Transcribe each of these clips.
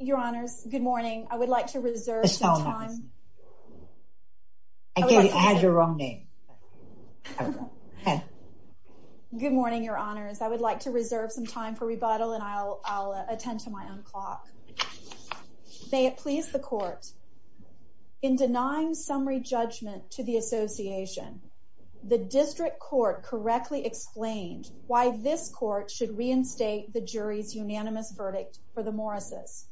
Your honors, good morning. I would like to reserve some time. I had your wrong name. Good morning, your honors. I would like to reserve some time for rebuttal and I'll attend to my own clock. May it please the court. In denying summary judgment to the association, the district court correctly explained why this court should reinstate the jury's unanimous verdict for the Morris's.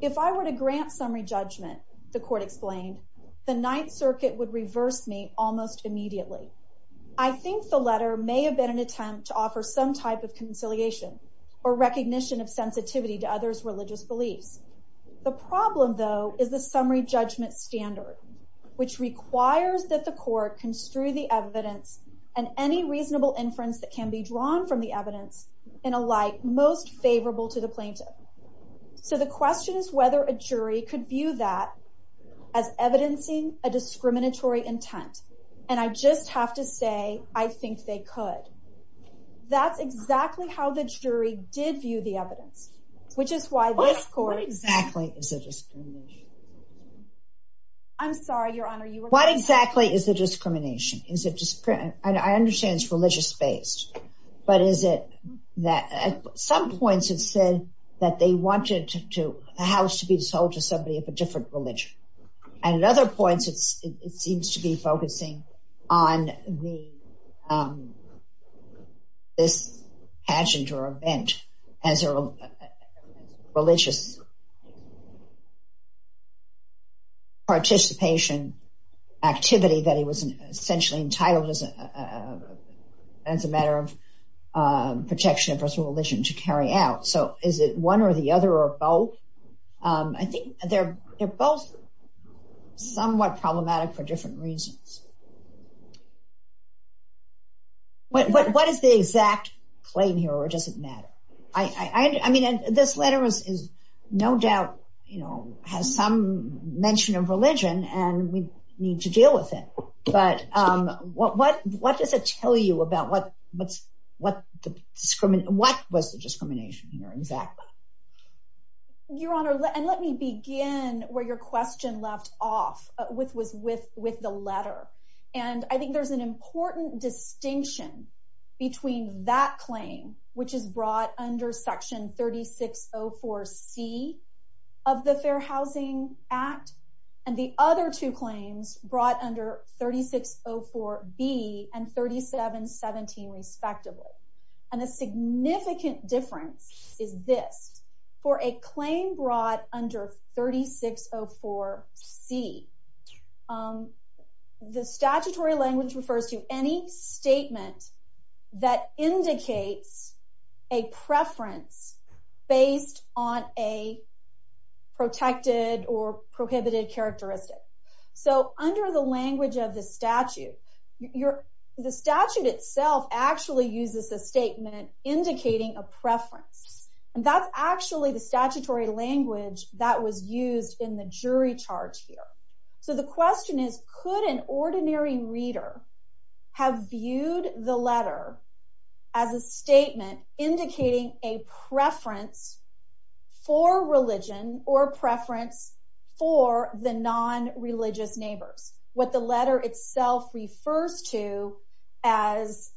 If I were to grant summary judgment, the court explained, the Ninth Circuit would reverse me almost immediately. I think the letter may have been an attempt to offer some type of conciliation or recognition of sensitivity to others' religious beliefs. The problem, though, is the summary judgment standard, which requires that the court construe the evidence and any reasonable inference that can be drawn from the evidence in a light most favorable to the plaintiff. So the question is whether a jury could view that as evidencing a discriminatory intent. And I just have to say, I think they could. That's exactly how the jury did view the evidence, which is why this court exactly. I'm sorry, your honor. What exactly is the discrimination? Is it just I understand it's that at some points, it said that they wanted to a house to be sold to somebody of a different religion. And at other points, it seems to be focusing on the this pageant or event as a religious participation activity that he was essentially entitled as a as a matter of protection of his religion to carry out. So is it one or the other or both? I think they're both somewhat problematic for different reasons. What is the exact claim here or does it matter? I mean, this letter is no doubt, you know, has some mention of religion and we need to deal with it. But what does it tell you about what was the discrimination here exactly? Your honor, and let me begin where your question left off with was with the letter. And I think there's an important distinction between that claim, which is brought under Section 3604 C of the Fair Housing Act, and the other two claims brought under 3604 B and 3717, respectively. And the significant difference is this for a claim brought under 3604 C. The statutory language refers to any statement that indicates a preference based on a protected or prohibited characteristic. So under the language of the statute, the statute itself actually uses a statement indicating a preference. And that's actually the statutory language that was used in the jury charge here. So the question is, could an ordinary reader have viewed the letter as a statement indicating a preference for religion or preference for the non-religious neighbors, what the letter itself refers to as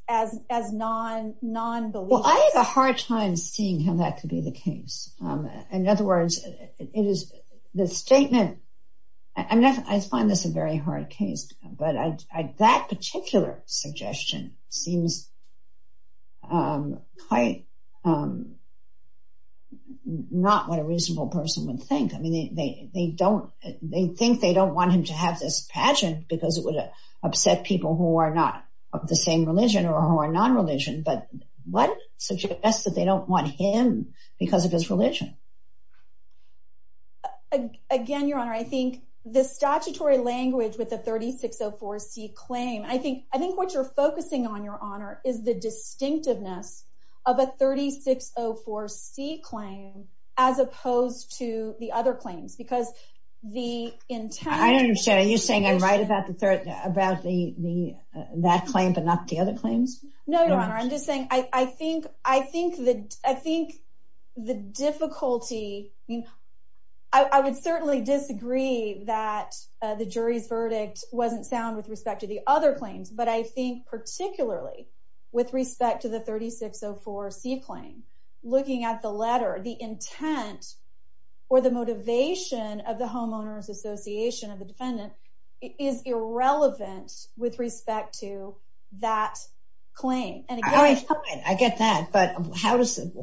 non-believers? Well, I have a hard time seeing how that could be the case. In other words, it is the statement. I find this a very hard case, but that particular suggestion seems quite not what a reasonable person would think. I mean, they think they don't want him to have this pageant because it would upset people who are not of the same religion or who are of the same religion. Again, Your Honor, I think the statutory language with the 3604 C claim, I think what you're focusing on, Your Honor, is the distinctiveness of a 3604 C claim as opposed to the other claims because the intent... I don't understand. Are you saying I'm right about the third about that claim but not the other claims? No, Your Honor. I'm just saying I think the difficulty... I mean, I would certainly disagree that the jury's verdict wasn't sound with respect to the other claims, but I think particularly with respect to the 3604 C claim, looking at the letter, the intent or the motivation of the homeowners association of the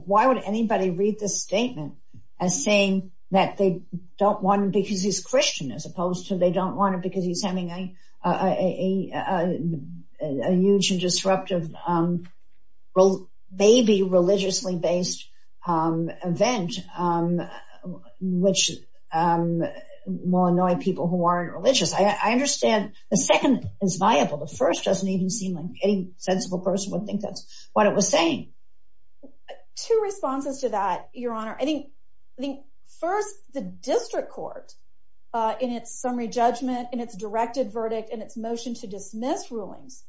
Why would anybody read this statement as saying that they don't want him because he's Christian as opposed to they don't want him because he's having a huge and disruptive, maybe religiously based event which will annoy people who aren't religious. I understand the second is viable. The first doesn't even seem like any sensible person would think that's what it was saying. Two responses to that, Your Honor. I think first the district court in its summary judgment, in its directed verdict, and its motion to dismiss rulings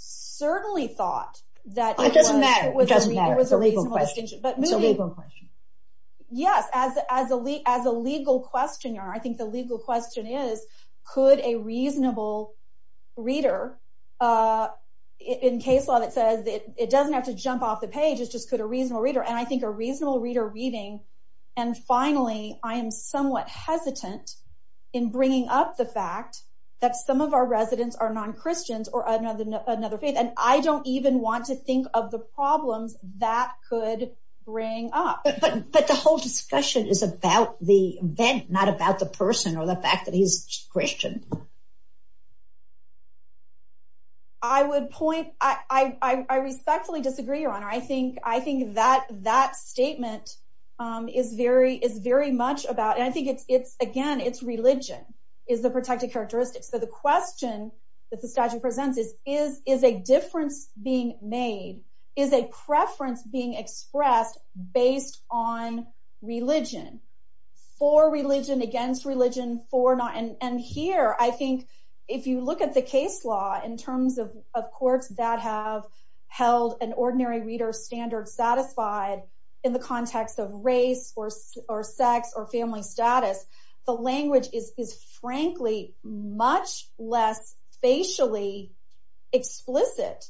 certainly thought that... It doesn't matter. It doesn't matter. It's a legal question. Yes, as a legal question, Your Honor, I think the legal question is could a reasonable reader in case law that says it doesn't have to jump off the page, it's just could a reasonable reader, and I think a reasonable reader reading, and finally, I am somewhat hesitant in bringing up the fact that some of our residents are non-Christians or another faith, and I don't even want to think of the problems that could bring up. But the whole discussion is about the event, not about the person or the fact that he's Christian. I would point... I respectfully disagree, Your Honor. I think that statement is very much about, and I think it's, again, it's religion is the protected characteristic. So the question that the statute presents is, is a difference being made? Is a preference being expressed based on religion? For religion, against religion, for not... And here, I think, if you look at the case law in terms of courts that have held an ordinary reader standard satisfied in the context of race, or sex, or family status, the language is, frankly, much less facially explicit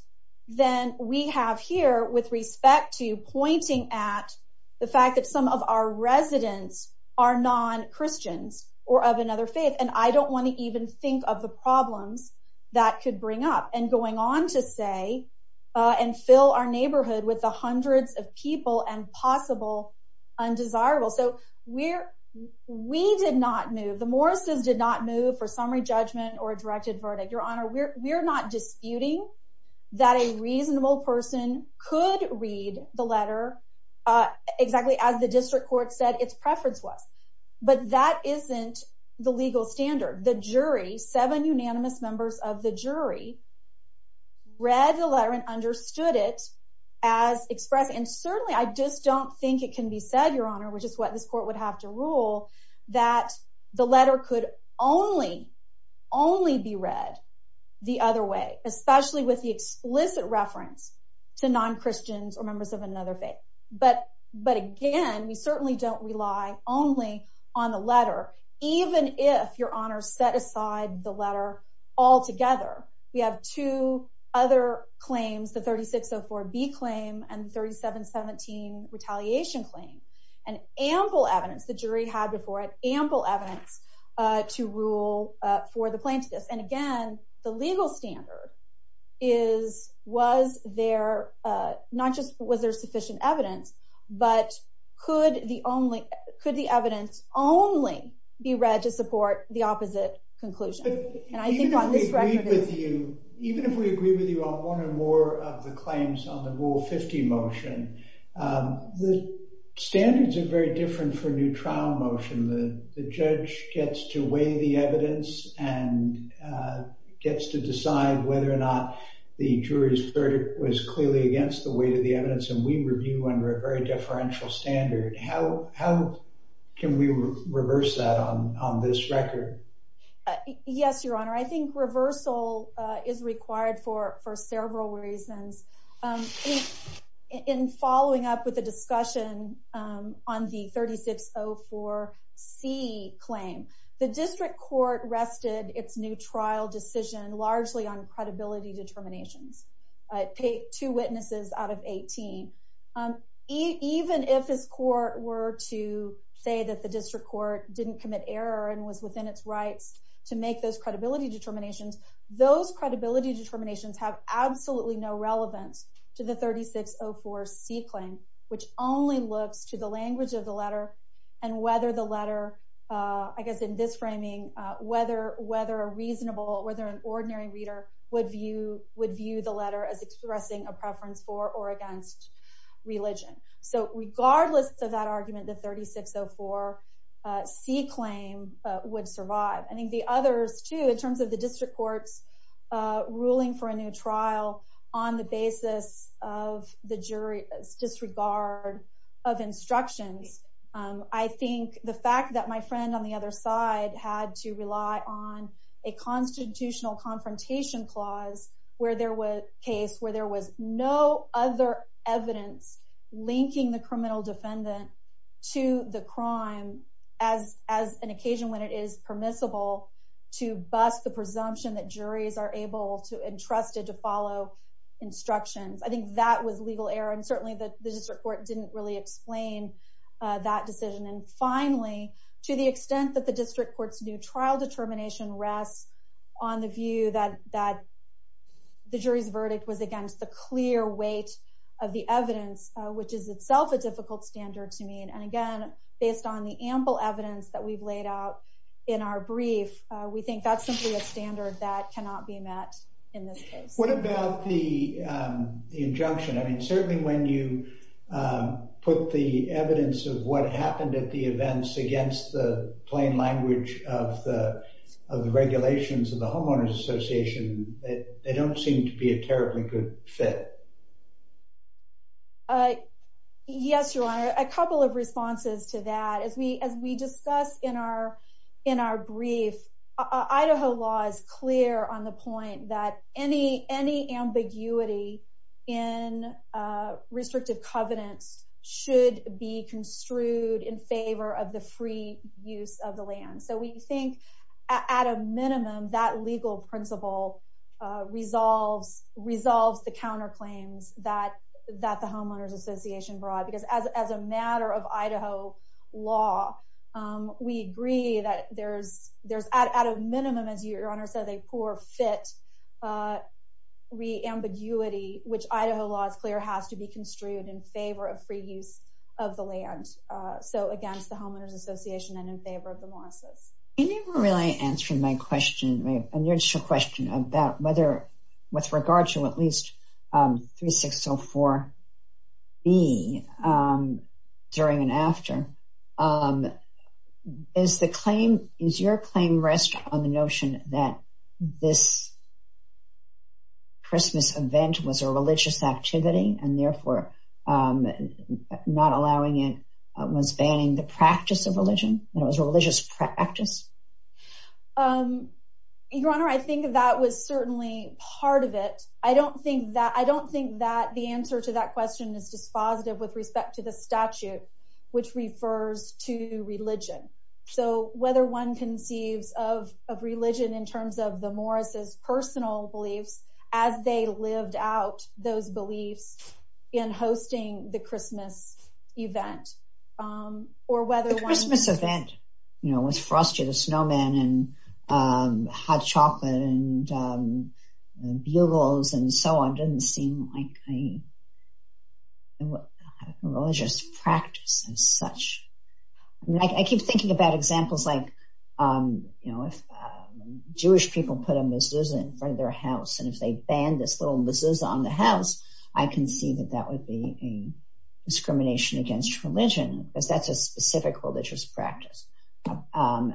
than we have here with respect to pointing at the fact that some of our residents are non-Christians or of another faith, and I don't want to even think of the problems that could bring up, and going on to say, and fill our neighborhood with the hundreds of people and possible undesirable. So we did not move, the Morrises did not move for summary judgment or not disputing that a reasonable person could read the letter exactly as the district court said its preference was. But that isn't the legal standard. The jury, seven unanimous members of the jury, read the letter and understood it as expressed. And certainly, I just don't think it can be said, Your Honor, which is what this court would have to rule, that the letter could only, only be read the other way, especially with the explicit reference to non-Christians or members of another faith. But again, we certainly don't rely only on the letter, even if, Your Honor, set aside the letter altogether. We have two other claims, the 3604B claim and 3717 retaliation claim, and ample evidence, the jury had before it, ample evidence to rule for the plaintiff. And again, the legal standard is, was there, not just was there sufficient evidence, but could the evidence only be read to support the opposite conclusion? And I think on this record- Even if we agree with you on one or more of the claims on the Rule 50 motion, the standards are very different for a new trial motion. The judge gets to weigh the evidence and gets to decide whether or not the jury's verdict was clearly against the weight of the evidence, and we review under a very deferential standard. How can we reverse that on this record? Yes, Your Honor. I think reversal is required for several reasons. In following up with the discussion on the 3604C claim, the district court rested its new trial decision largely on credibility determinations. It paid two witnesses out of 18. Even if his court were to say that the district court didn't commit error and was within its rights to make those credibility determinations, those credibility determinations have absolutely no relevance to the 3604C claim, which only looks to the language of the letter and whether the letter, I guess in this framing, whether a reasonable, whether an ordinary reader would view the letter as expressing a preference for or against religion. So regardless of that argument, the 3604C claim would survive. I think the others, too, in terms of the district court's ruling for a new trial on the basis of the jury's disregard of instructions, I think the fact that my friend on the other side had to rely on a no other evidence linking the criminal defendant to the crime as an occasion when it is permissible to bust the presumption that juries are able to entrust it to follow instructions. I think that was legal error and certainly the district court didn't really explain that decision. And finally, to the extent that the district court's new trial determination rests on the view that the jury's verdict was against the clear weight of the evidence, which is itself a difficult standard to meet. And again, based on the ample evidence that we've laid out in our brief, we think that's simply a standard that cannot be met in this case. What about the injunction? I mean, certainly when you put the evidence of what happened at the events against the plain language of the regulations of the Homeowners Association, they don't seem to be a terribly good fit. Yes, Your Honor, a couple of responses to that. As we discuss in our brief, Idaho law is clear on the point that any ambiguity in restrictive covenants should be construed in favor of the free use of the land. So we think, at a minimum, that legal principle resolves the counterclaims that the Homeowners Association brought. Because as a matter of Idaho law, we agree that there's, at a minimum, as Your Honor said, a poor fit re-ambiguity, which Idaho law is clear has to be construed in favor of free use of the land. So again, it's the Homeowners Association and in favor of the mosses. You never really answered my question, my initial question, about whether with regard to at least 3604B, during and after, is your claim rest on the notion that this were not allowing it, was banning the practice of religion, that it was a religious practice? Your Honor, I think that was certainly part of it. I don't think that the answer to that question is dispositive with respect to the statute, which refers to religion. So whether one conceives of religion in terms of the Morris's personal beliefs, as they lived out those beliefs, in hosting the Christmas event, or whether... The Christmas event, you know, with Frosty the Snowman and hot chocolate and bugles and so on, didn't seem like a religious practice as such. I keep thinking about examples like, you know, if Jewish people put a mezuzah in front of their house, I can see that that would be a discrimination against religion, because that's a specific religious practice. And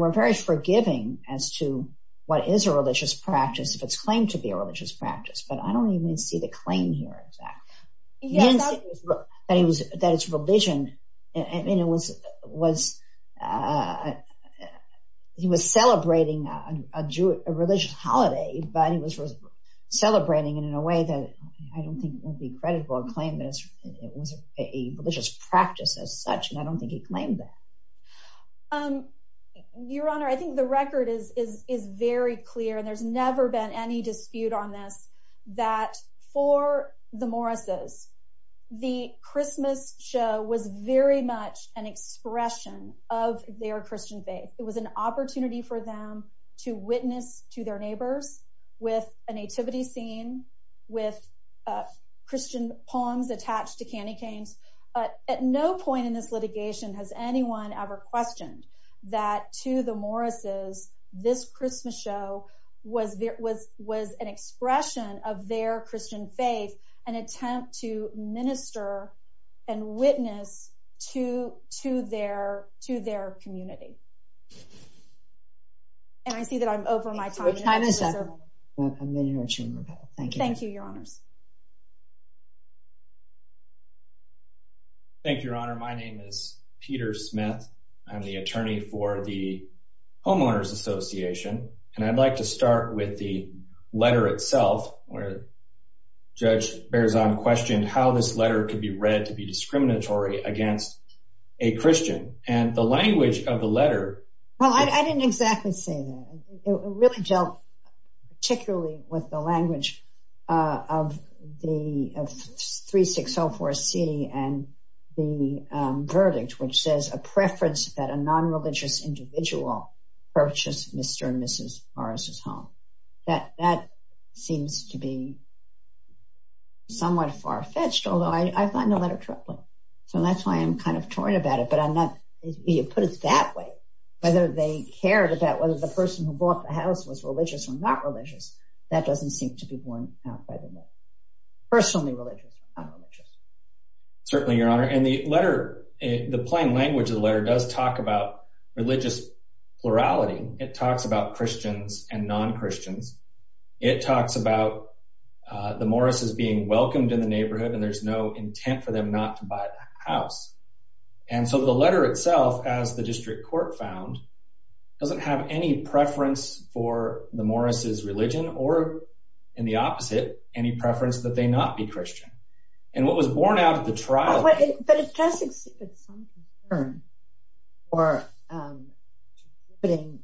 we're very forgiving as to what is a religious practice, if it's claimed to be a religious practice, but I don't even see the claim here, in fact. That it's religion, and it was... He was celebrating a Jewish, a religious holiday, but he was celebrating it in a way that I don't think would be credible, a claim that it was a religious practice as such, and I don't think he claimed that. Your Honor, I think the record is very clear, and there's never been any dispute on this, that for the Morris's, the Christmas show was very much an expression of their Christian faith. It was an opportunity for them to witness to their neighbors, with a nativity scene, with Christian poems attached to candy canes. At no point in this litigation has anyone ever questioned that to the Morris's, this Christmas show was an expression of their Christian faith, an attempt to minister and witness to their community. And I see that I'm over my time. Your time is up. Thank you. Thank you, Your Honors. Thank you, Your Honor. My name is Peter Smith. I'm the attorney for the Homeowners Association, and I'd like to start with the letter itself, where Judge Berzon questioned how this letter could be read to be discriminatory against a Christian, and the language of the letter. Well, I didn't exactly say that. It really dealt particularly with the language of the 3604C and the verdict, which says, a preference that a non-religious individual purchase Mr. and Mrs. Morris's home. That seems to be somewhat far-fetched, although I find the letter troubling. So that's why I'm kind of torn about it. But I'm not, you put it that way, whether they cared about whether the person who bought the house was religious or not religious, that doesn't seem to be borne out by the letter. Personally religious or not religious. Certainly, Your Honor. And the letter, the plain language of the letter does talk about religious plurality. It talks about Christians and non-Christians. It talks about the Morris's being welcomed in the neighborhood, and there's no intent for them not to buy the house. And so the letter itself, as the district court found, doesn't have any preference for the Morris's religion, or in the opposite, any preference that they not be Christian. And what was borne out of the trial? But it does exhibit some concern for putting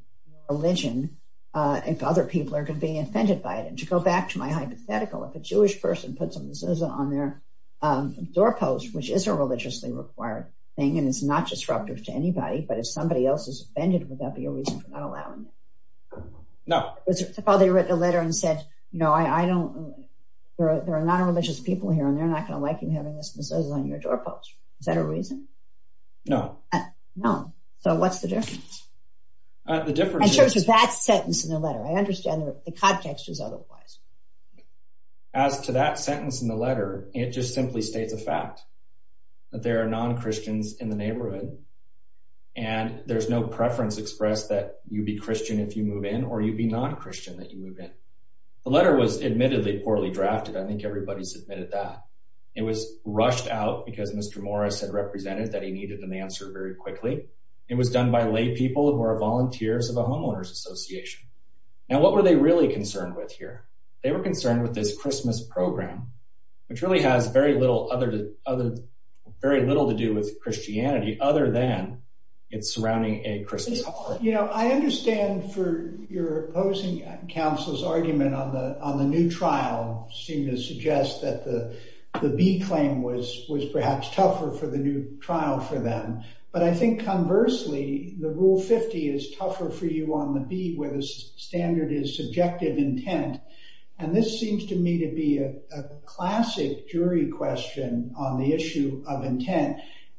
religion, if other people are being offended by it. And to go back to my hypothetical, if a Jewish person puts a mezuzah on their doorpost, which is a religiously required thing, and it's not disruptive to anybody, but if somebody else is offended, would that be a reason for not allowing it? No. Well, they wrote a letter and said, you know, I don't, there are non-religious people here, and they're not going to like you having this mezuzah on your doorpost. Is that a reason? No. No. So what's the difference? The difference is... In terms of that sentence in the letter, I understand the context is otherwise. As to that sentence in the letter, it just simply states a fact, that there are non-Christians in the neighborhood, and there's no preference expressed that you be Christian if you move in, or you be non-Christian that you move in. The letter was admittedly poorly drafted. I think everybody submitted that. It was rushed out because Mr. Morris had represented that he needed an answer very quickly. It was done by laypeople who are volunteers of a homeowners association. Now, what were they really concerned with here? They were concerned with this Christmas program, which really has very little to do with Christianity, other than it's surrounding a Christmas holiday. You know, I understand for your opposing counsel's argument on the new trial seem to suggest that the B claim was perhaps tougher for the new trial for them. But I think conversely, the Rule 50 is tougher for you on the B, where the standard is subjective intent. And this seems to me to be a classic jury question on the issue of intent.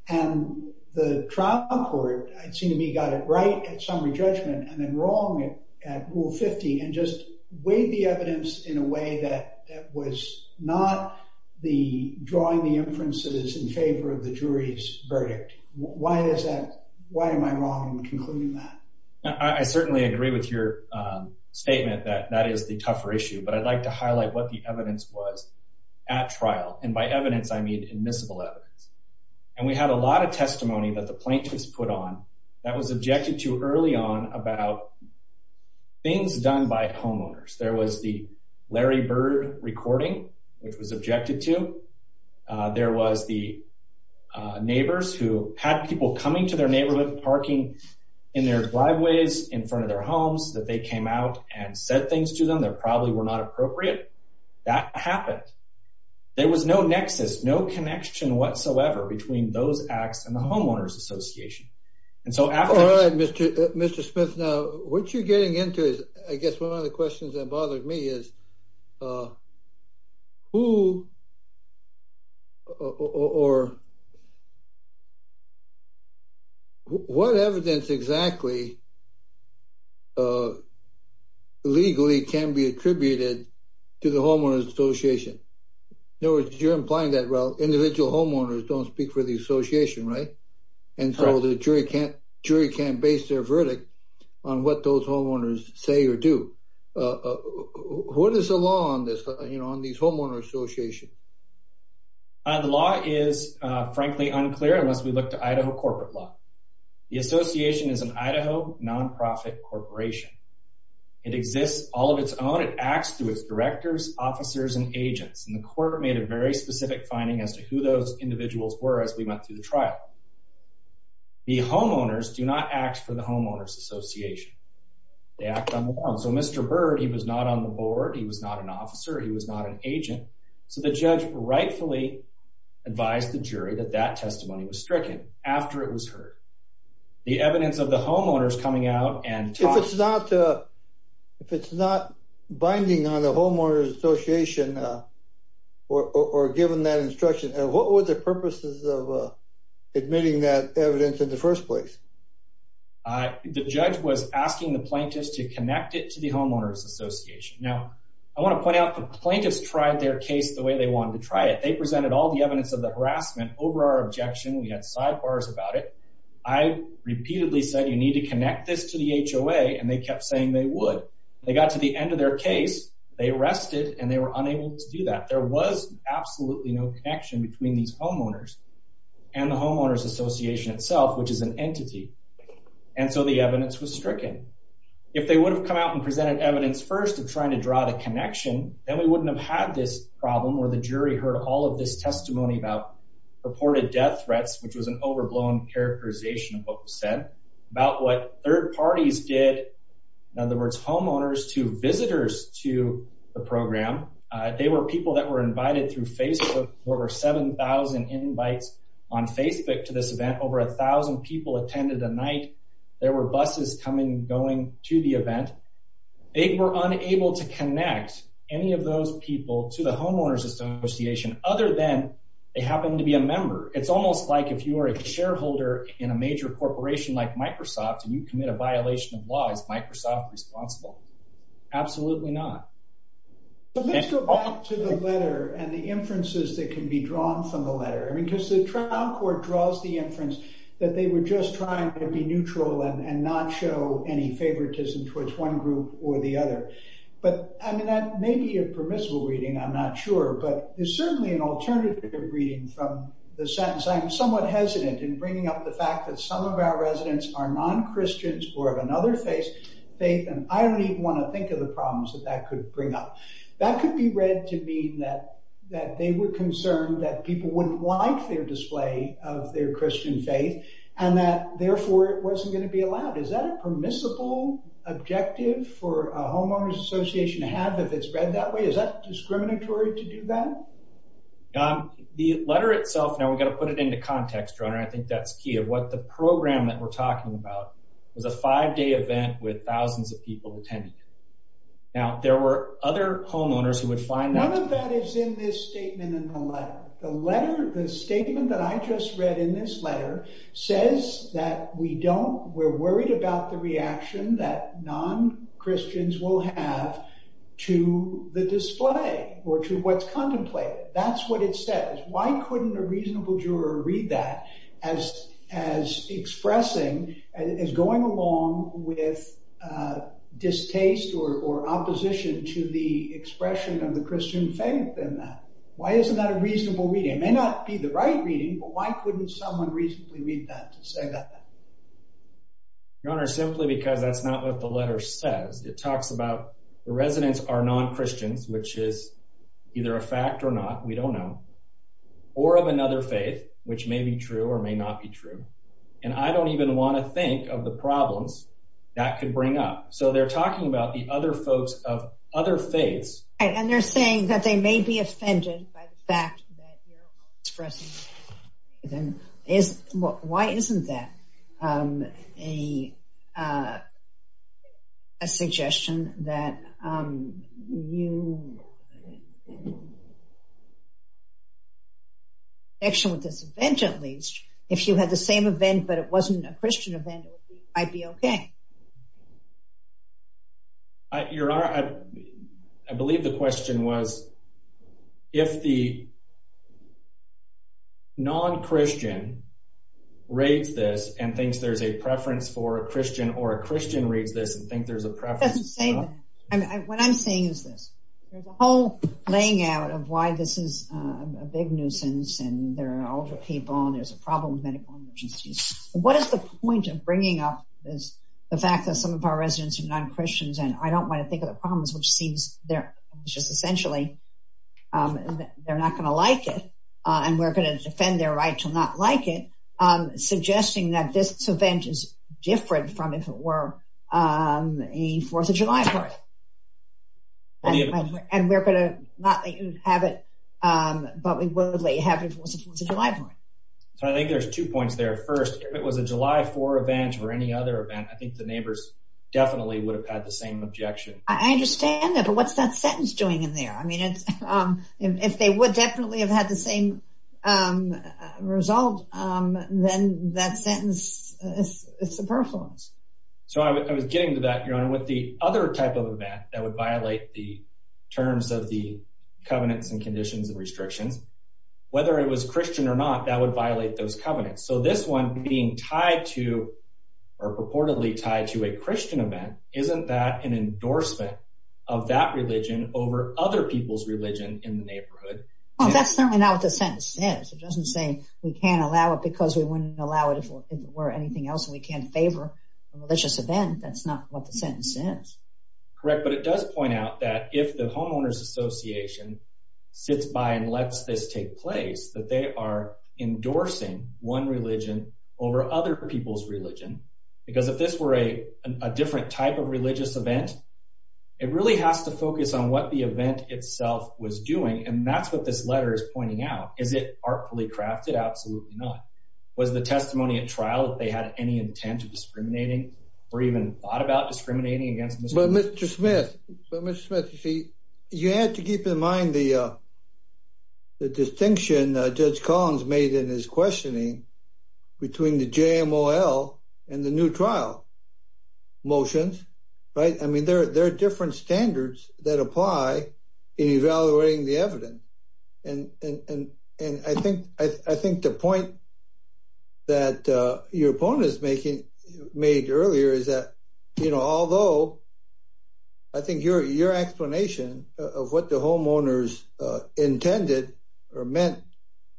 And the trial court, it seemed to me, got it right at summary judgment, and then wrong at Rule 50, and just weighed the evidence in a way that that was not the drawing the inferences in favor of the jury's verdict. Why is that? Why am I wrong in concluding that? I certainly agree with your statement that that is the tougher issue. But I'd like to highlight what the evidence was at trial. And by evidence, I mean admissible evidence. And we had a lot of testimony that the plaintiffs put on that was objected to early on about things done by homeowners. There was the Larry Bird recording, which was objected to. There was the neighbors who had people coming to their neighborhood parking in their driveways in front of their homes that they came out and said things to them that probably were not appropriate. That happened. There was no nexus, no connection whatsoever between those acts and the homeowners association. All right, Mr. Smith. Now, what you're getting into is, I guess, one of the questions that bothered me is, what evidence exactly legally can be attributed to the homeowners association? In other words, you're implying that, well, individual homeowners don't speak for the association, right? And so the jury can't base their verdict on what those homeowners say or do. What is the law on this, you know, on these homeowners association? The law is, frankly, unclear unless we look to Idaho corporate law. The association is an Idaho nonprofit corporation. It exists all of its own. It acts through its directors, officers, and agents. And the court made a very specific finding as to who those individuals were as we went through the trial. The homeowners do not act for the homeowners association. They act on their own. So Mr. Bird, he was not on the board. He was not an officer. He was not an agent. So the judge rightfully advised the jury that that testimony was stricken after it was heard. The evidence of the homeowners coming out and talking- If it's not binding on the homeowners association or given that instruction, what were the purposes of admitting that evidence in the first place? The judge was asking the plaintiffs to connect it to the homeowners association. Now, I want to point out the plaintiffs tried their case the way they wanted to try it. They presented all the evidence of the harassment over our objection. We had sidebars about it. I repeatedly said, you need to connect this to the HOA, and they kept saying they would. They got to the end of their case, they arrested, and they were unable to do that. There was absolutely no connection between these homeowners and the homeowners association itself, which is an entity. And so the evidence was stricken. If they would have come out and presented evidence first of trying to draw the connection, then we wouldn't have had this problem where the jury heard all of this testimony about purported death threats, which was an overblown characterization of what was said, about what third parties did, in other words, homeowners to visitors to the program. They were people that were invited through Facebook. There were 7,000 invites on Facebook to this event. Over 1,000 people attended a night. There were buses coming and going to the event. They were unable to connect any of those people to the homeowners association other than they happened to be a member. It's almost like if you are a shareholder in a major corporation like Microsoft and you commit a violation of law, is Microsoft responsible? Absolutely not. Let's go back to the letter and the inferences that can be drawn from the letter. I mean, because the trial court draws the inference that they were just trying to be neutral and not show any favoritism towards one group or the other. But I mean, that may be a permissible reading. I'm not sure. But there's certainly an alternative reading from the sentence. I'm somewhat hesitant in bringing up the fact that some of our residents are non-Christians or of another faith, and I don't even want to think of the problems that that could bring up. That could be read to mean that they were concerned that people wouldn't like their display of their Christian faith and that, therefore, it wasn't going to be allowed. Is that a permissible objective for a homeowners association to have if it's read that way? Is that discriminatory to do that? The letter itself, now we've got to put it into context. I think that's key of what the program that we're talking about was a five-day event with thousands of people attending. Now, there were other homeowners who would find that. One of that is in this statement in the letter. The letter, the statement that I just read in this letter says that we don't, we're worried about the reaction that non-Christians will have to the display or to what's contemplated. That's what it says. Why couldn't a reasonable juror read that as expressing, as going along with distaste or opposition to the expression of the Christian faith in that? Why isn't that a reasonable reading? It may not be the right reading, but why couldn't someone reasonably read that to say that? Your Honor, simply because that's not what the letter says. It talks about the residents are non-Christians, which is either a fact or not, we don't know, or of another faith, which may be true or may not be true. And I don't even want to think of the problems that could bring up. So they're talking about the other folks of other faiths. And they're expressing, why isn't that a suggestion that you, actually with this event at least, if you had the same event, but it wasn't a Christian event, it might be okay. Your Honor, I believe the question was, if the non-Christian reads this and thinks there's a preference for a Christian, or a Christian reads this and think there's a preference for a non-Christian. What I'm saying is this, there's a whole playing out of why this is a big nuisance, and there are older people, and there's a problem with medical emergencies. What is the point of bringing up this, the fact that some of our residents are non-Christians, and I don't want to think of the problems, which seems they're just essentially, they're not going to like it, and we're going to defend their right to not like it, suggesting that this event is different from, if it were, a 4th of July party. And we're going to not let you have it, but we will let you have it if it was a 4th of July party. So I think there's two points there. First, if it was a July 4 event, or any other event, I think the neighbors definitely would have had the same objection. I understand that, but what's that sentence doing in there? I mean, if they would definitely have had the same result, then that sentence is superfluous. So I was getting to that, Your Honor. With the other type of event that would violate the terms of the covenants and conditions and restrictions, whether it was Christian or not, that would violate those covenants. So this one being tied to, or purportedly tied to, a Christian event, isn't that an endorsement of that religion over other people's religion in the neighborhood? Well, that's certainly not what the sentence says. It doesn't say we can't allow it because we wouldn't allow it if it were anything else, and we can't favor a religious event. That's not what the sentence says. Correct, but it does point out that if the homeowners association sits by and lets this take place, that they are endorsing one religion over other people's religion. Because if this were a different type of religious event, it really has to focus on what the event itself was doing, and that's what this letter is pointing out. Is it artfully crafted? Absolutely not. Was the testimony at trial that they had any intent of discriminating or even thought about discriminating against Mr. Collins? But Mr. Smith, you had to keep in mind the distinction Judge Collins made in his questioning between the JMOL and the new trial motions. There are different standards that apply in evaluating the evidence, and I think the point that your opponent made earlier is that, although I think your explanation of what the homeowners intended or meant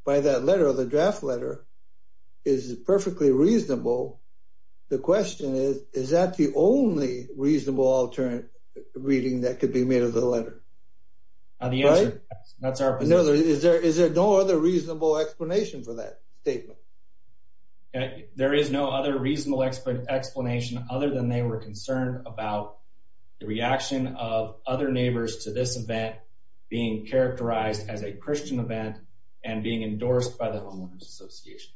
by that letter, the draft letter, is perfectly reasonable, the question is, is that the only reasonable alternate reading that could be made of the letter? Is there no other reasonable explanation for that statement? There is no other reasonable explanation other than they were concerned about the reaction of other neighbors to this event being characterized as a Christian event and being endorsed by the homeowners association.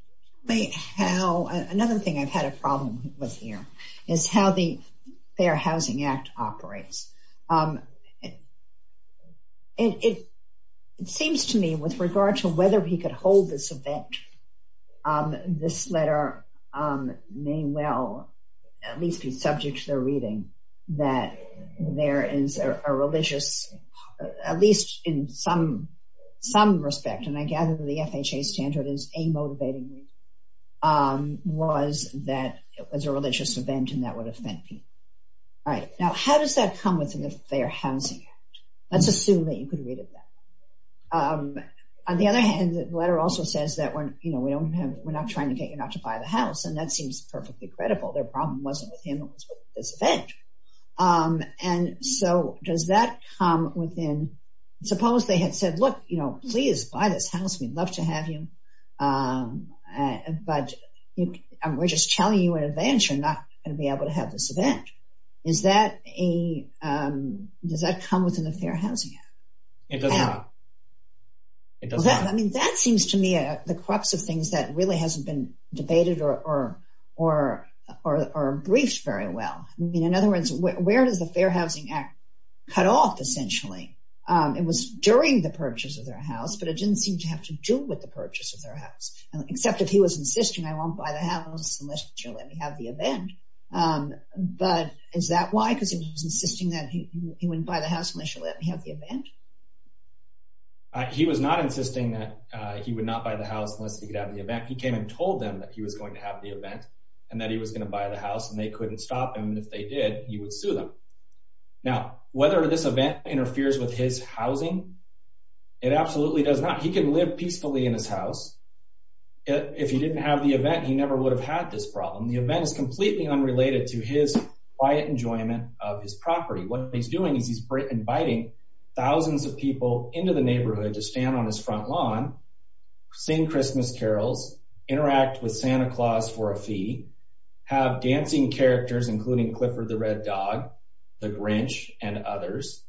Another thing I've had a problem with here is how the Fair Housing Act operates. It seems to me, with regard to whether he could hold this event, this letter may well at least be subject to their reading, that there is a religious, at least in some respect, and I gather the FHA standard is a motivating reading, was that it was a religious event and that would offend people. Now, how does that come within the Fair Housing Act? Let's assume that you could read it that way. On the other hand, the letter also says that we're not trying to get you not to buy the house, and that seems perfectly credible. Their problem wasn't with him, it was with this event. And so does that come within, suppose they had said, look, please buy this house, we'd love to have you, but we're just telling you in advance you're not going to be able to have this event. Does that come within the Fair Housing Act? It does not. I mean, that seems to me the crux of things that really hasn't been debated or briefed very well. In other words, where does the Fair Housing Act cut off, essentially? It was during the purchase of their house, but it didn't seem to have to do with the purchase of their house, except if he was insisting I won't buy the house unless you let me have the event. But is that why? Because he was insisting that he wouldn't buy the house unless you let me have the event? He was not insisting that he would not buy the house unless he could have the event. He came and told them that he was going to have the event, and that he was going to buy the house, and they couldn't stop him. And if they did, he would sue them. Now, whether this event interferes with his housing, it absolutely does not. He can live peacefully in his house. If he didn't have the event, he never would have had this problem. The event is completely unrelated to his quiet enjoyment of his property. What he's doing is he's inviting thousands of people into the neighborhood to stand on his front lawn, sing Christmas carols, interact with Santa Claus for a fee, have dancing characters, including Clifford the Red Dog, the Grinch, and others,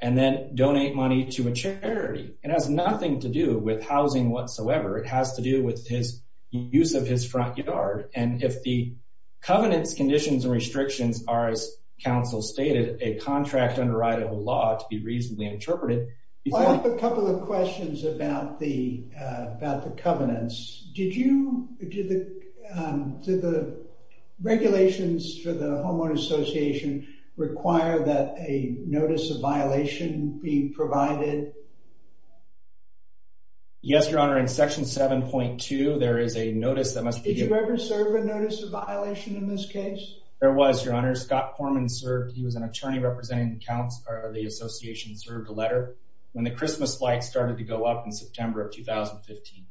and then donate money to a charity. It has nothing to do with housing whatsoever. It has to do with his use of his front yard. And if the covenants, conditions, and restrictions are, as counsel stated, a contract underwritable law to be reasonably interpreted — I have a couple of questions about the covenants. Did you — did the regulations for the Homeowner Association require that a notice of violation be provided? Yes, Your Honor. In Section 7.2, there is a notice that must be given — Did you ever serve a notice of violation in this case? There was, Your Honor. Scott Corman served. He was an attorney representing the association and served a letter when the Christmas lights started to go up in September of 2015.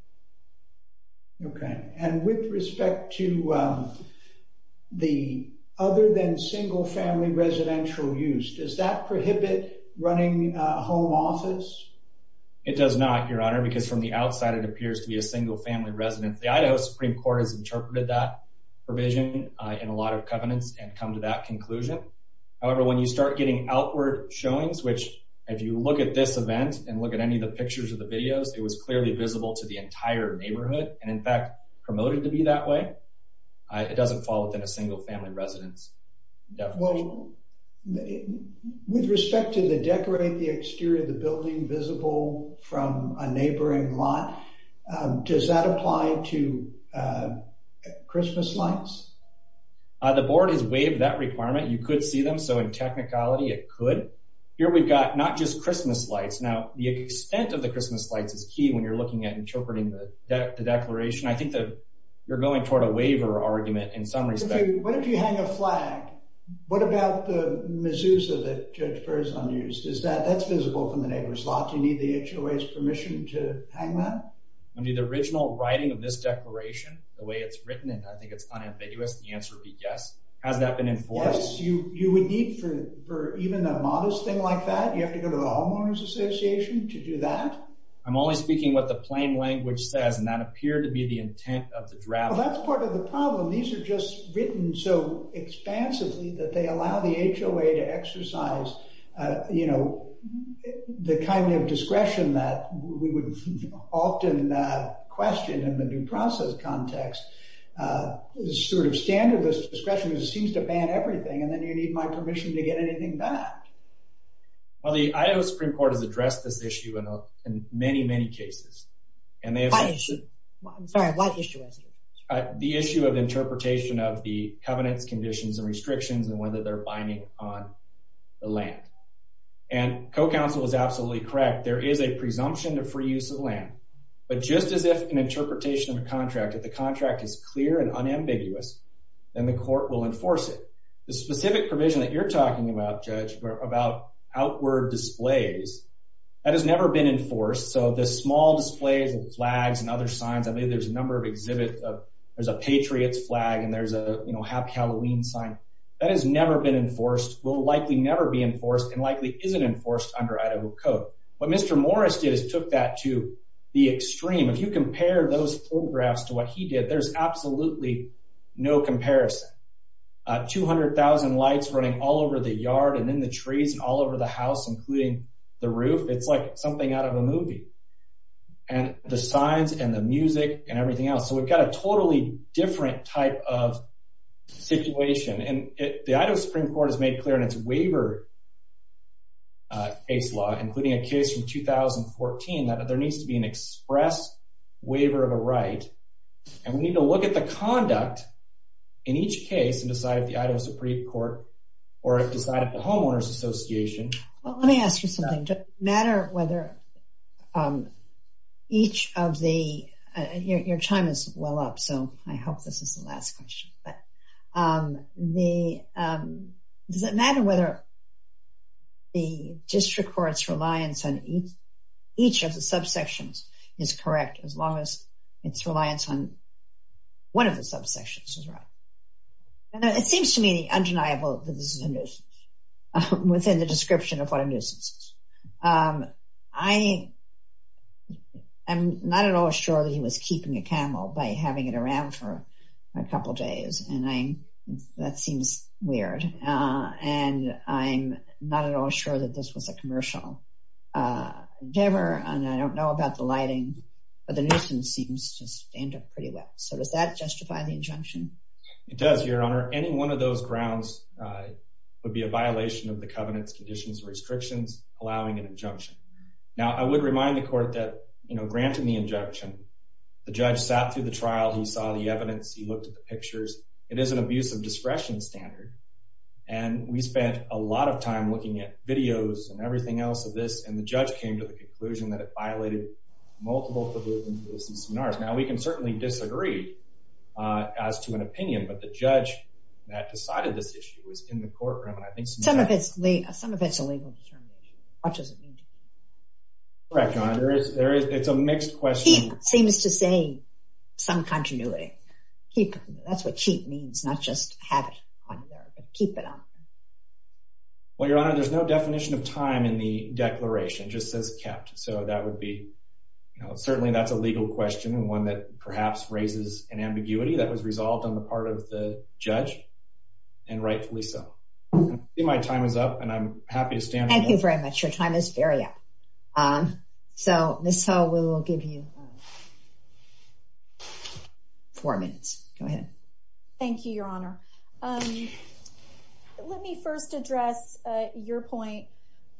Okay. And with respect to the other-than-single-family residential use, does that prohibit running a home office? It does not, Your Honor, because from the outside, it appears to be a single-family residence. The Idaho Supreme Court has interpreted that provision in a lot of covenants and come to that conclusion. However, when you start getting outward showings, which, if you look at this event and look at any of the pictures or the videos, it was clearly visible to the entire neighborhood and, in fact, promoted to be that way. It doesn't fall within a single-family residence definition. With respect to the decorate the exterior of the building visible from a neighboring lot, does that apply to Christmas lights? The board has waived that requirement. You could see them. So, in technicality, it could. Here we've got not just Christmas lights. Now, the extent of the Christmas lights is key when you're looking at interpreting the declaration. I think that you're going toward a waiver argument in some respect. What if you hang a flag? What about the mezuzah that Judge Burr has unused? That's visible from the neighbor's lot. Do you need the HOA's permission to hang that? Under the original writing of this declaration, the way it's written in, I think it's unambiguous. The answer would be yes. Has that been enforced? Yes. You would need, for even a modest thing like that, you have to go to the Homeowners Association to do that? I'm only speaking what the plain language says, and that appeared to be the intent of the draft. Well, that's part of the problem. These are just written so expansively that they allow the HOA to exercise, you know, the kind of discretion that we would often question in the new process context. It's sort of standard discretion that seems to ban everything, and then you need my permission to get anything back. Well, the Idaho Supreme Court has addressed this issue in many, many cases. What issue? I'm sorry, what issue is it? The issue of interpretation of the covenants, conditions, and restrictions, and whether they're binding on the land. And co-counsel is absolutely correct. There is a presumption of free use of land. But just as if an interpretation of a contract, if the contract is clear and unambiguous, then the court will enforce it. The specific provision that you're talking about, Judge, about outward displays, that has never been enforced. So the small displays with flags and other signs, I mean, there's a number of exhibits. There's a Patriot's flag, and there's a, you know, Happy Halloween sign. That has never been enforced, will likely never be enforced, and likely isn't enforced under Idaho code. What Mr. Morris did is took that to the extreme. If you compare those photographs to what he did, there's absolutely no comparison. 200,000 lights running all over the yard and in the trees and all over the house, including the roof. It's like something out of a movie. And the signs and the music and everything else. So we've got a totally different type of situation. And the Idaho Supreme Court has made clear in its waiver case law, including a case from 2014, that there needs to be an express waiver of a right. And we need to look at the conduct in each case and decide if the Idaho Supreme Court or decide at the Homeowners Association. Well, let me ask you something. Does it matter whether each of the – your time is well up, so I hope this is the last question. But does it matter whether the district court's reliance on each of the subsections is correct as long as its reliance on one of the subsections is right? It seems to me undeniable that this is a nuisance. Within the description of what a nuisance is. I am not at all sure that he was keeping a camel by having it around for a couple days. And that seems weird. And I'm not at all sure that this was a commercial endeavor. And I don't know about the lighting. But the nuisance seems to stand up pretty well. So does that justify the injunction? It does, Your Honor. Any one of those grounds would be a violation of the covenant's conditions and restrictions, allowing an injunction. Now, I would remind the court that, you know, granting the injunction, the judge sat through the trial. He saw the evidence. He looked at the pictures. It is an abuse of discretion standard. And we spent a lot of time looking at videos and everything else of this. And the judge came to the conclusion that it violated multiple provisions of the CCNR. Now, we can certainly disagree as to an opinion. But the judge that decided this issue was in the courtroom. Some of it is a legal determination. Correct, Your Honor. It's a mixed question. He seems to say some continuity. That's what keep means, not just have it on there, but keep it on there. Well, Your Honor, there's no definition of time in the declaration. It just says kept. So that would be, you know, certainly that's a legal question and one that perhaps raises an ambiguity that was resolved on the part of the judge, and rightfully so. I think my time is up, and I'm happy to stand. Thank you very much. Your time is very up. So, Ms. Hull, we will give you four minutes. Go ahead. Thank you, Your Honor. Let me first address your point,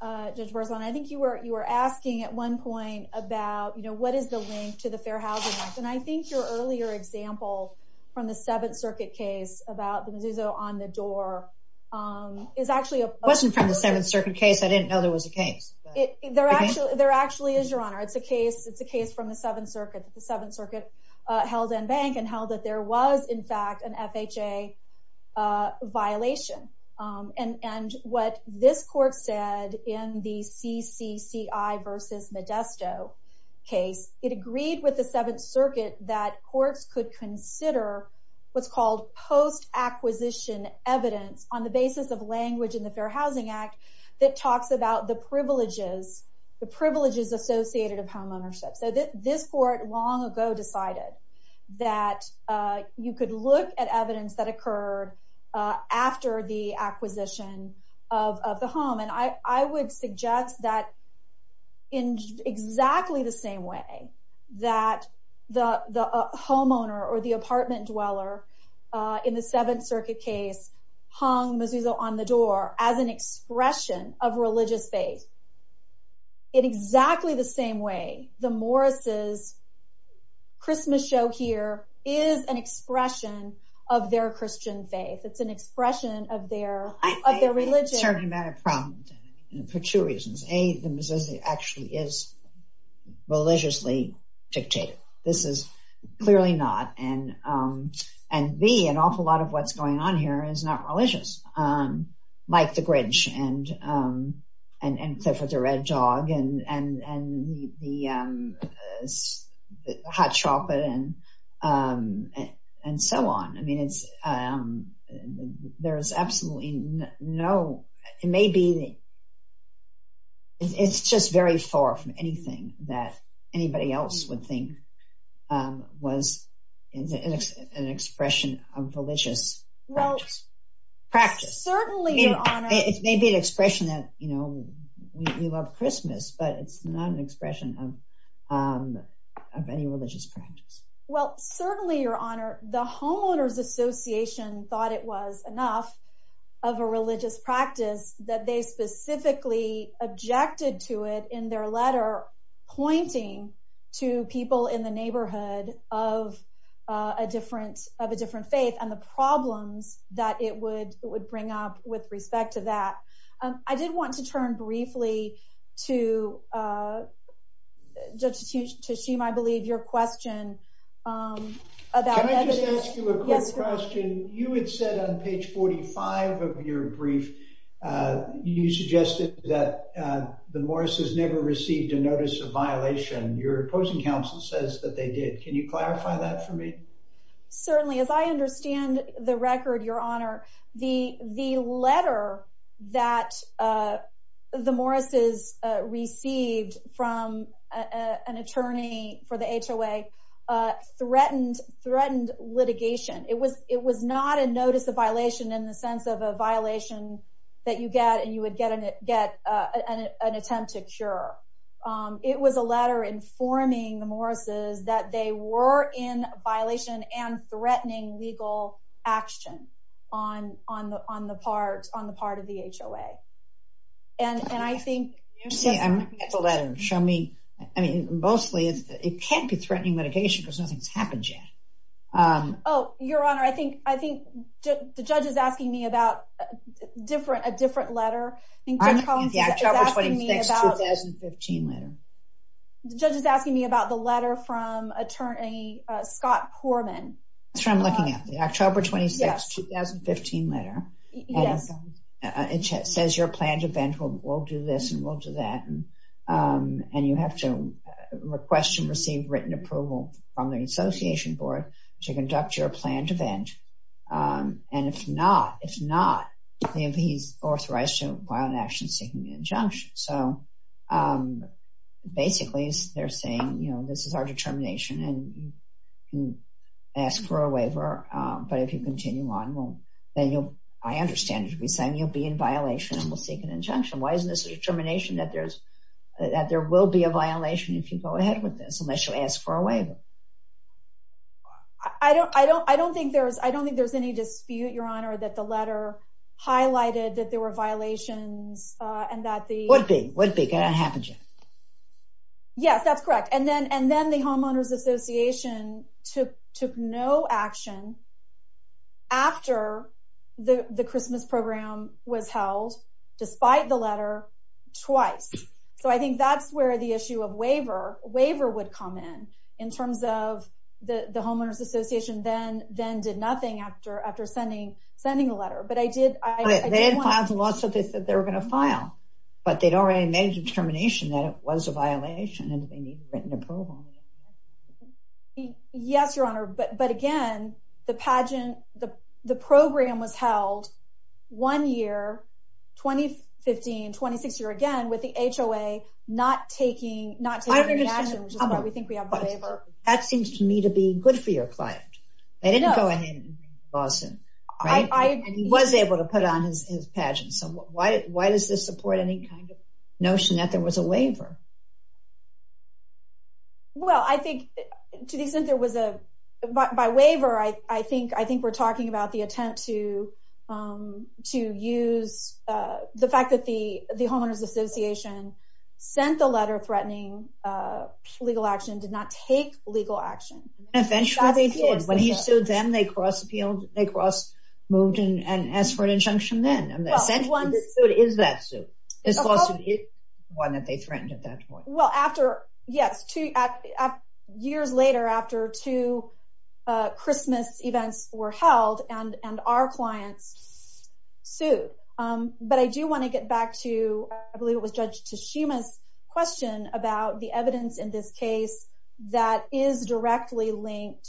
Judge Berzon. I think you were asking at one point about, you know, what is the link to the Fair Housing Act. And I think your earlier example from the Seventh Circuit case about the Mazzuzo on the door is actually a- It wasn't from the Seventh Circuit case. I didn't know there was a case. There actually is, Your Honor. It's a case from the Seventh Circuit that the Seventh Circuit held in bank and held that there was, in fact, an FHA violation. And what this court said in the CCCI versus Modesto case, it agreed with the Seventh Circuit that courts could consider what's called post-acquisition evidence on the basis of language in the Fair Housing Act that talks about the privileges, the privileges associated of homeownership. So, this court long ago decided that you could look at evidence that occurred after the acquisition of the home. And I would suggest that in exactly the same way that the homeowner or the apartment dweller in the Seventh Circuit case hung Mazzuzo on the door as an expression of religious faith, in exactly the same way the Morris' Christmas show here is an expression of their Christian faith. It's an expression of their religion. For two reasons. A, the Mazzuzo actually is religiously dictated. This is clearly not. And B, an awful lot of what's going on here is not religious, like the Grinch and Clifford the Red Dog and Hot Chocolate and so on. I mean, it's, there's absolutely no, it may be, it's just very far from anything that anybody else would think was an expression of religious practice. Certainly, Your Honor. It may be an expression that, you know, we love Christmas, but it's not an expression of any religious practice. Well, certainly, Your Honor, the Homeowners Association thought it was enough of a religious practice that they specifically objected to it in their letter pointing to people in the neighborhood of a different faith and the problems that it would bring up with respect to that. I did want to turn briefly to Judge Tasheem, I believe, your question about evidence. Can I just ask you a quick question? You had said on page 45 of your brief, you suggested that the Morris' never received a notice of violation. Your opposing counsel says that they did. Can you clarify that for me? Certainly. As I understand the record, Your Honor, the letter that the Morris' received from an attorney for the HOA threatened litigation. It was not a notice of violation in the sense of a violation that you get and you would get an attempt to cure. It was a letter informing the Morris' that they were in violation and threatening legal action on the part of the HOA. And I think... Show me. I mean, mostly, it can't be threatening litigation because nothing's happened yet. Oh, Your Honor, I think the judge is asking me about a different letter. The October 26, 2015 letter. The judge is asking me about the letter from attorney Scott Poorman. That's what I'm looking at, the October 26, 2015 letter. Yes. It says your planned event, we'll do this and we'll do that. And you have to request and receive written approval from the association board to conduct your planned event. And if not, if not, he's authorized to file an action seeking an injunction. So, basically, they're saying, you know, this is our determination and you can ask for a waiver. But if you continue on, well, then you'll... I understand you'll be saying you'll be in violation and we'll seek an injunction. Why isn't this a determination that there will be a violation if you go ahead with this unless you ask for a waiver? I don't think there's any dispute, Your Honor, that the letter highlighted that there were violations and that the... Would be, would be, could have happened yet. Yes, that's correct. And then the homeowners association took no action after the Christmas program was held, despite the letter, twice. So, I think that's where the issue of waiver, waiver would come in, in terms of the homeowners association then did nothing after sending the letter. But I did... They didn't file the law, so they said they were going to file. But they'd already made a determination that it was a violation and they need written approval. Yes, Your Honor. But again, the pageant, the program was held one year, 2015, 2016, again, with the HOA not taking, not taking any action. I understand. Which is why we think we have a waiver. That seems to me to be good for your client. They didn't go ahead and file soon. I, I... And he was able to put on his pageant. So, why does this support any kind of notion that there was a waiver? Well, I think, to the extent there was a, by waiver, I think, I think we're talking about the attempt to, to use the fact that the, the homeowners association sent the letter threatening legal action, did not take legal action. Eventually they did. When he sued them, they cross appealed, they cross moved and asked for an injunction then. And essentially this suit is that suit. This lawsuit is one that they threatened at that point. Well, after, yes, two years later, after two Christmas events were held and, and our clients sued. But I do want to get back to, I believe it was Judge Tashima's question about the evidence in this case that is directly linked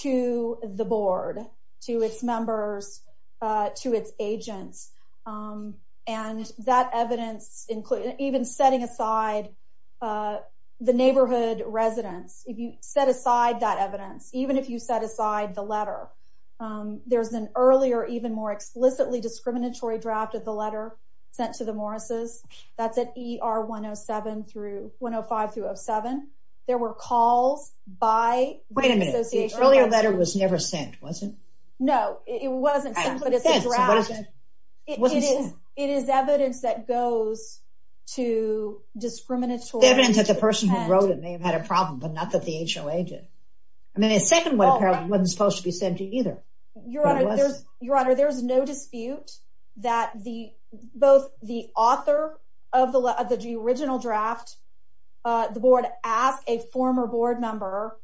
to the board, to its members, to its agents. And that evidence including, even setting aside the neighborhood residents. If you set aside that evidence, even if you set aside the letter, there's an earlier, even more explicitly discriminatory draft of the letter sent to the Morris's. That's at ER 107 through, 105 through 07. There were calls by... Wait a minute. The earlier letter was never sent, was it? No, it wasn't. It is evidence that goes to discriminatory... Evidence that the person who wrote it may have had a problem, but not that the HOA did. I mean, the second one apparently wasn't supposed to be sent to either. Your Honor, there's no dispute that both the author of the original draft, the board, asked a former board member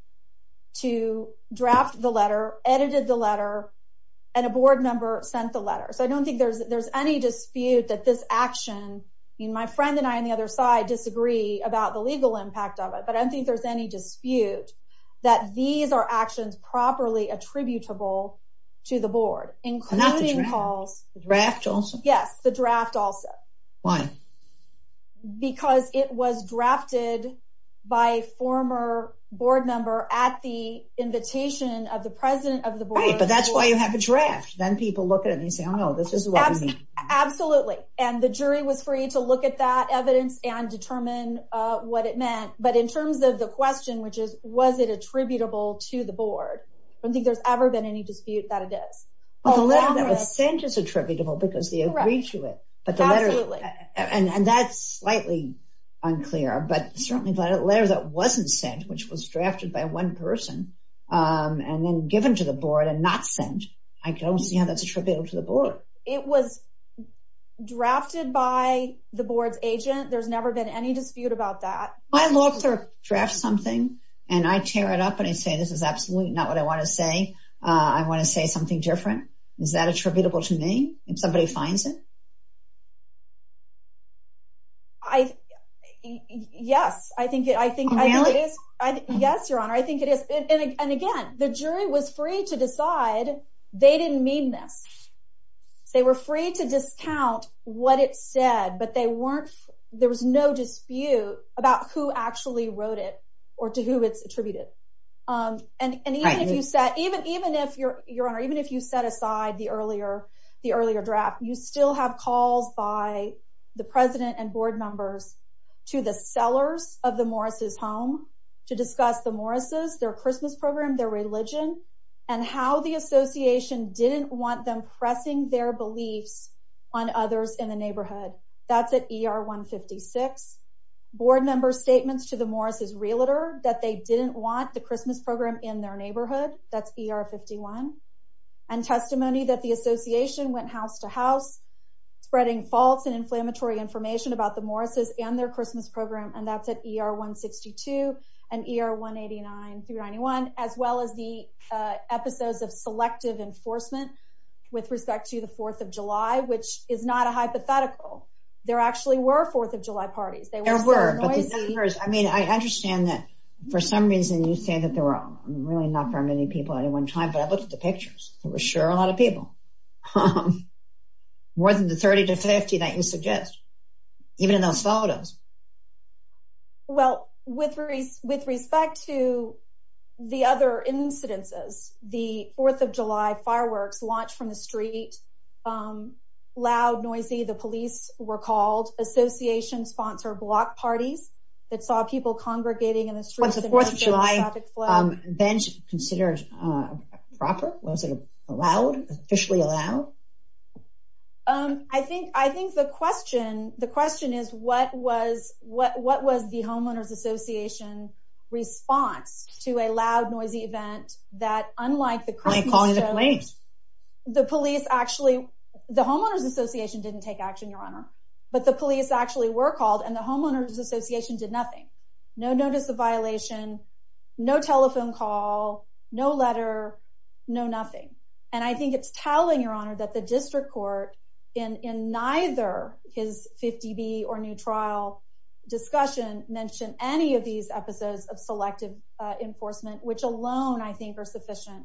to draft the letter, edited the letter, and a board member sent the letter. So I don't think there's any dispute that this action... I mean, my friend and I on the other side disagree about the legal impact of it, but I don't think there's any dispute that these are actions properly attributable to the board, including calls... Not the draft. The draft also? Yes, the draft also. Why? Because it was drafted by a former board member at the invitation of the president of the board... Right, but that's why you have a draft. Then people look at it and say, oh no, this is what we need. Absolutely. And the jury was free to look at that evidence and determine what it meant. But in terms of the question, which is, was it attributable to the board? I don't think there's ever been any dispute that it is. Well, the letter that was sent is attributable because they agreed to it. Absolutely. And that's slightly unclear, but certainly the letter that wasn't sent, which was drafted by one person and then given to the board and not sent, I don't see how that's attributable to the board. It was drafted by the board's agent. There's never been any dispute about that. I look or draft something and I tear it up and I say, this is absolutely not what I want to say. I want to say something different. Is that attributable to me if somebody finds it? Yes, I think it is. Yes, Your Honor, I think it is. And again, the jury was free to decide they didn't mean this. They were free to discount what it said, but there was no dispute about who actually wrote it or to who it's attributed. Even if you set aside the earlier draft, you still have calls by the president and board members to the sellers of the Morris's home to discuss the Morris's, their Christmas program, their religion, and how the association didn't want them pressing their beliefs on others in the neighborhood. That's at ER 156. Board members statements to the Morris's realtor that they didn't want the Christmas program in their neighborhood. That's ER 51. And testimony that the association went house to house, spreading false and inflammatory information about the Morris's and their Christmas program. And that's at ER 162 and ER 189-391, as well as the episodes of selective enforcement with respect to the 4th of July, which is not a hypothetical. There actually were 4th of July parties. There were. I mean, I understand that for some reason you say that there were really not very many people at one time, but I looked at the pictures. There were sure a lot of people. More than the 30 to 50 that you suggest. Even in those photos. Well, with respect to the other incidences, the 4th of July fireworks launched from the street. Loud, noisy. The police were called. Association sponsored block parties that saw people congregating in the streets. Was the 4th of July event considered proper? Was it allowed? Officially allowed? I think I think the question, the question is, what was what? What was the homeowners association response to a loud, noisy event that unlike the calling the police? The police actually the homeowners association didn't take action, Your Honor. But the police actually were called and the homeowners association did nothing. No notice of violation. No telephone call. No letter. No nothing. And I think it's telling, Your Honor, that the district court in in neither his 50 B or new trial discussion mentioned any of these episodes of selective enforcement, which alone I think are sufficient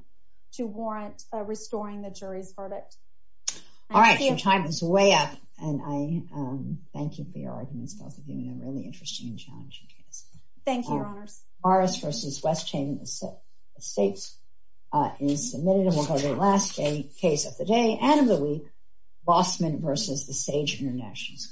to warrant restoring the jury's verdict. All right, your time is way up. And I thank you for your arguments. Both of you in a really interesting and challenging case. Thank you. Thank you, Your Honors. Morris v. West Chain Estates is submitted. And we'll go to the last case of the day and of the week. Bossman v. The Sage International School.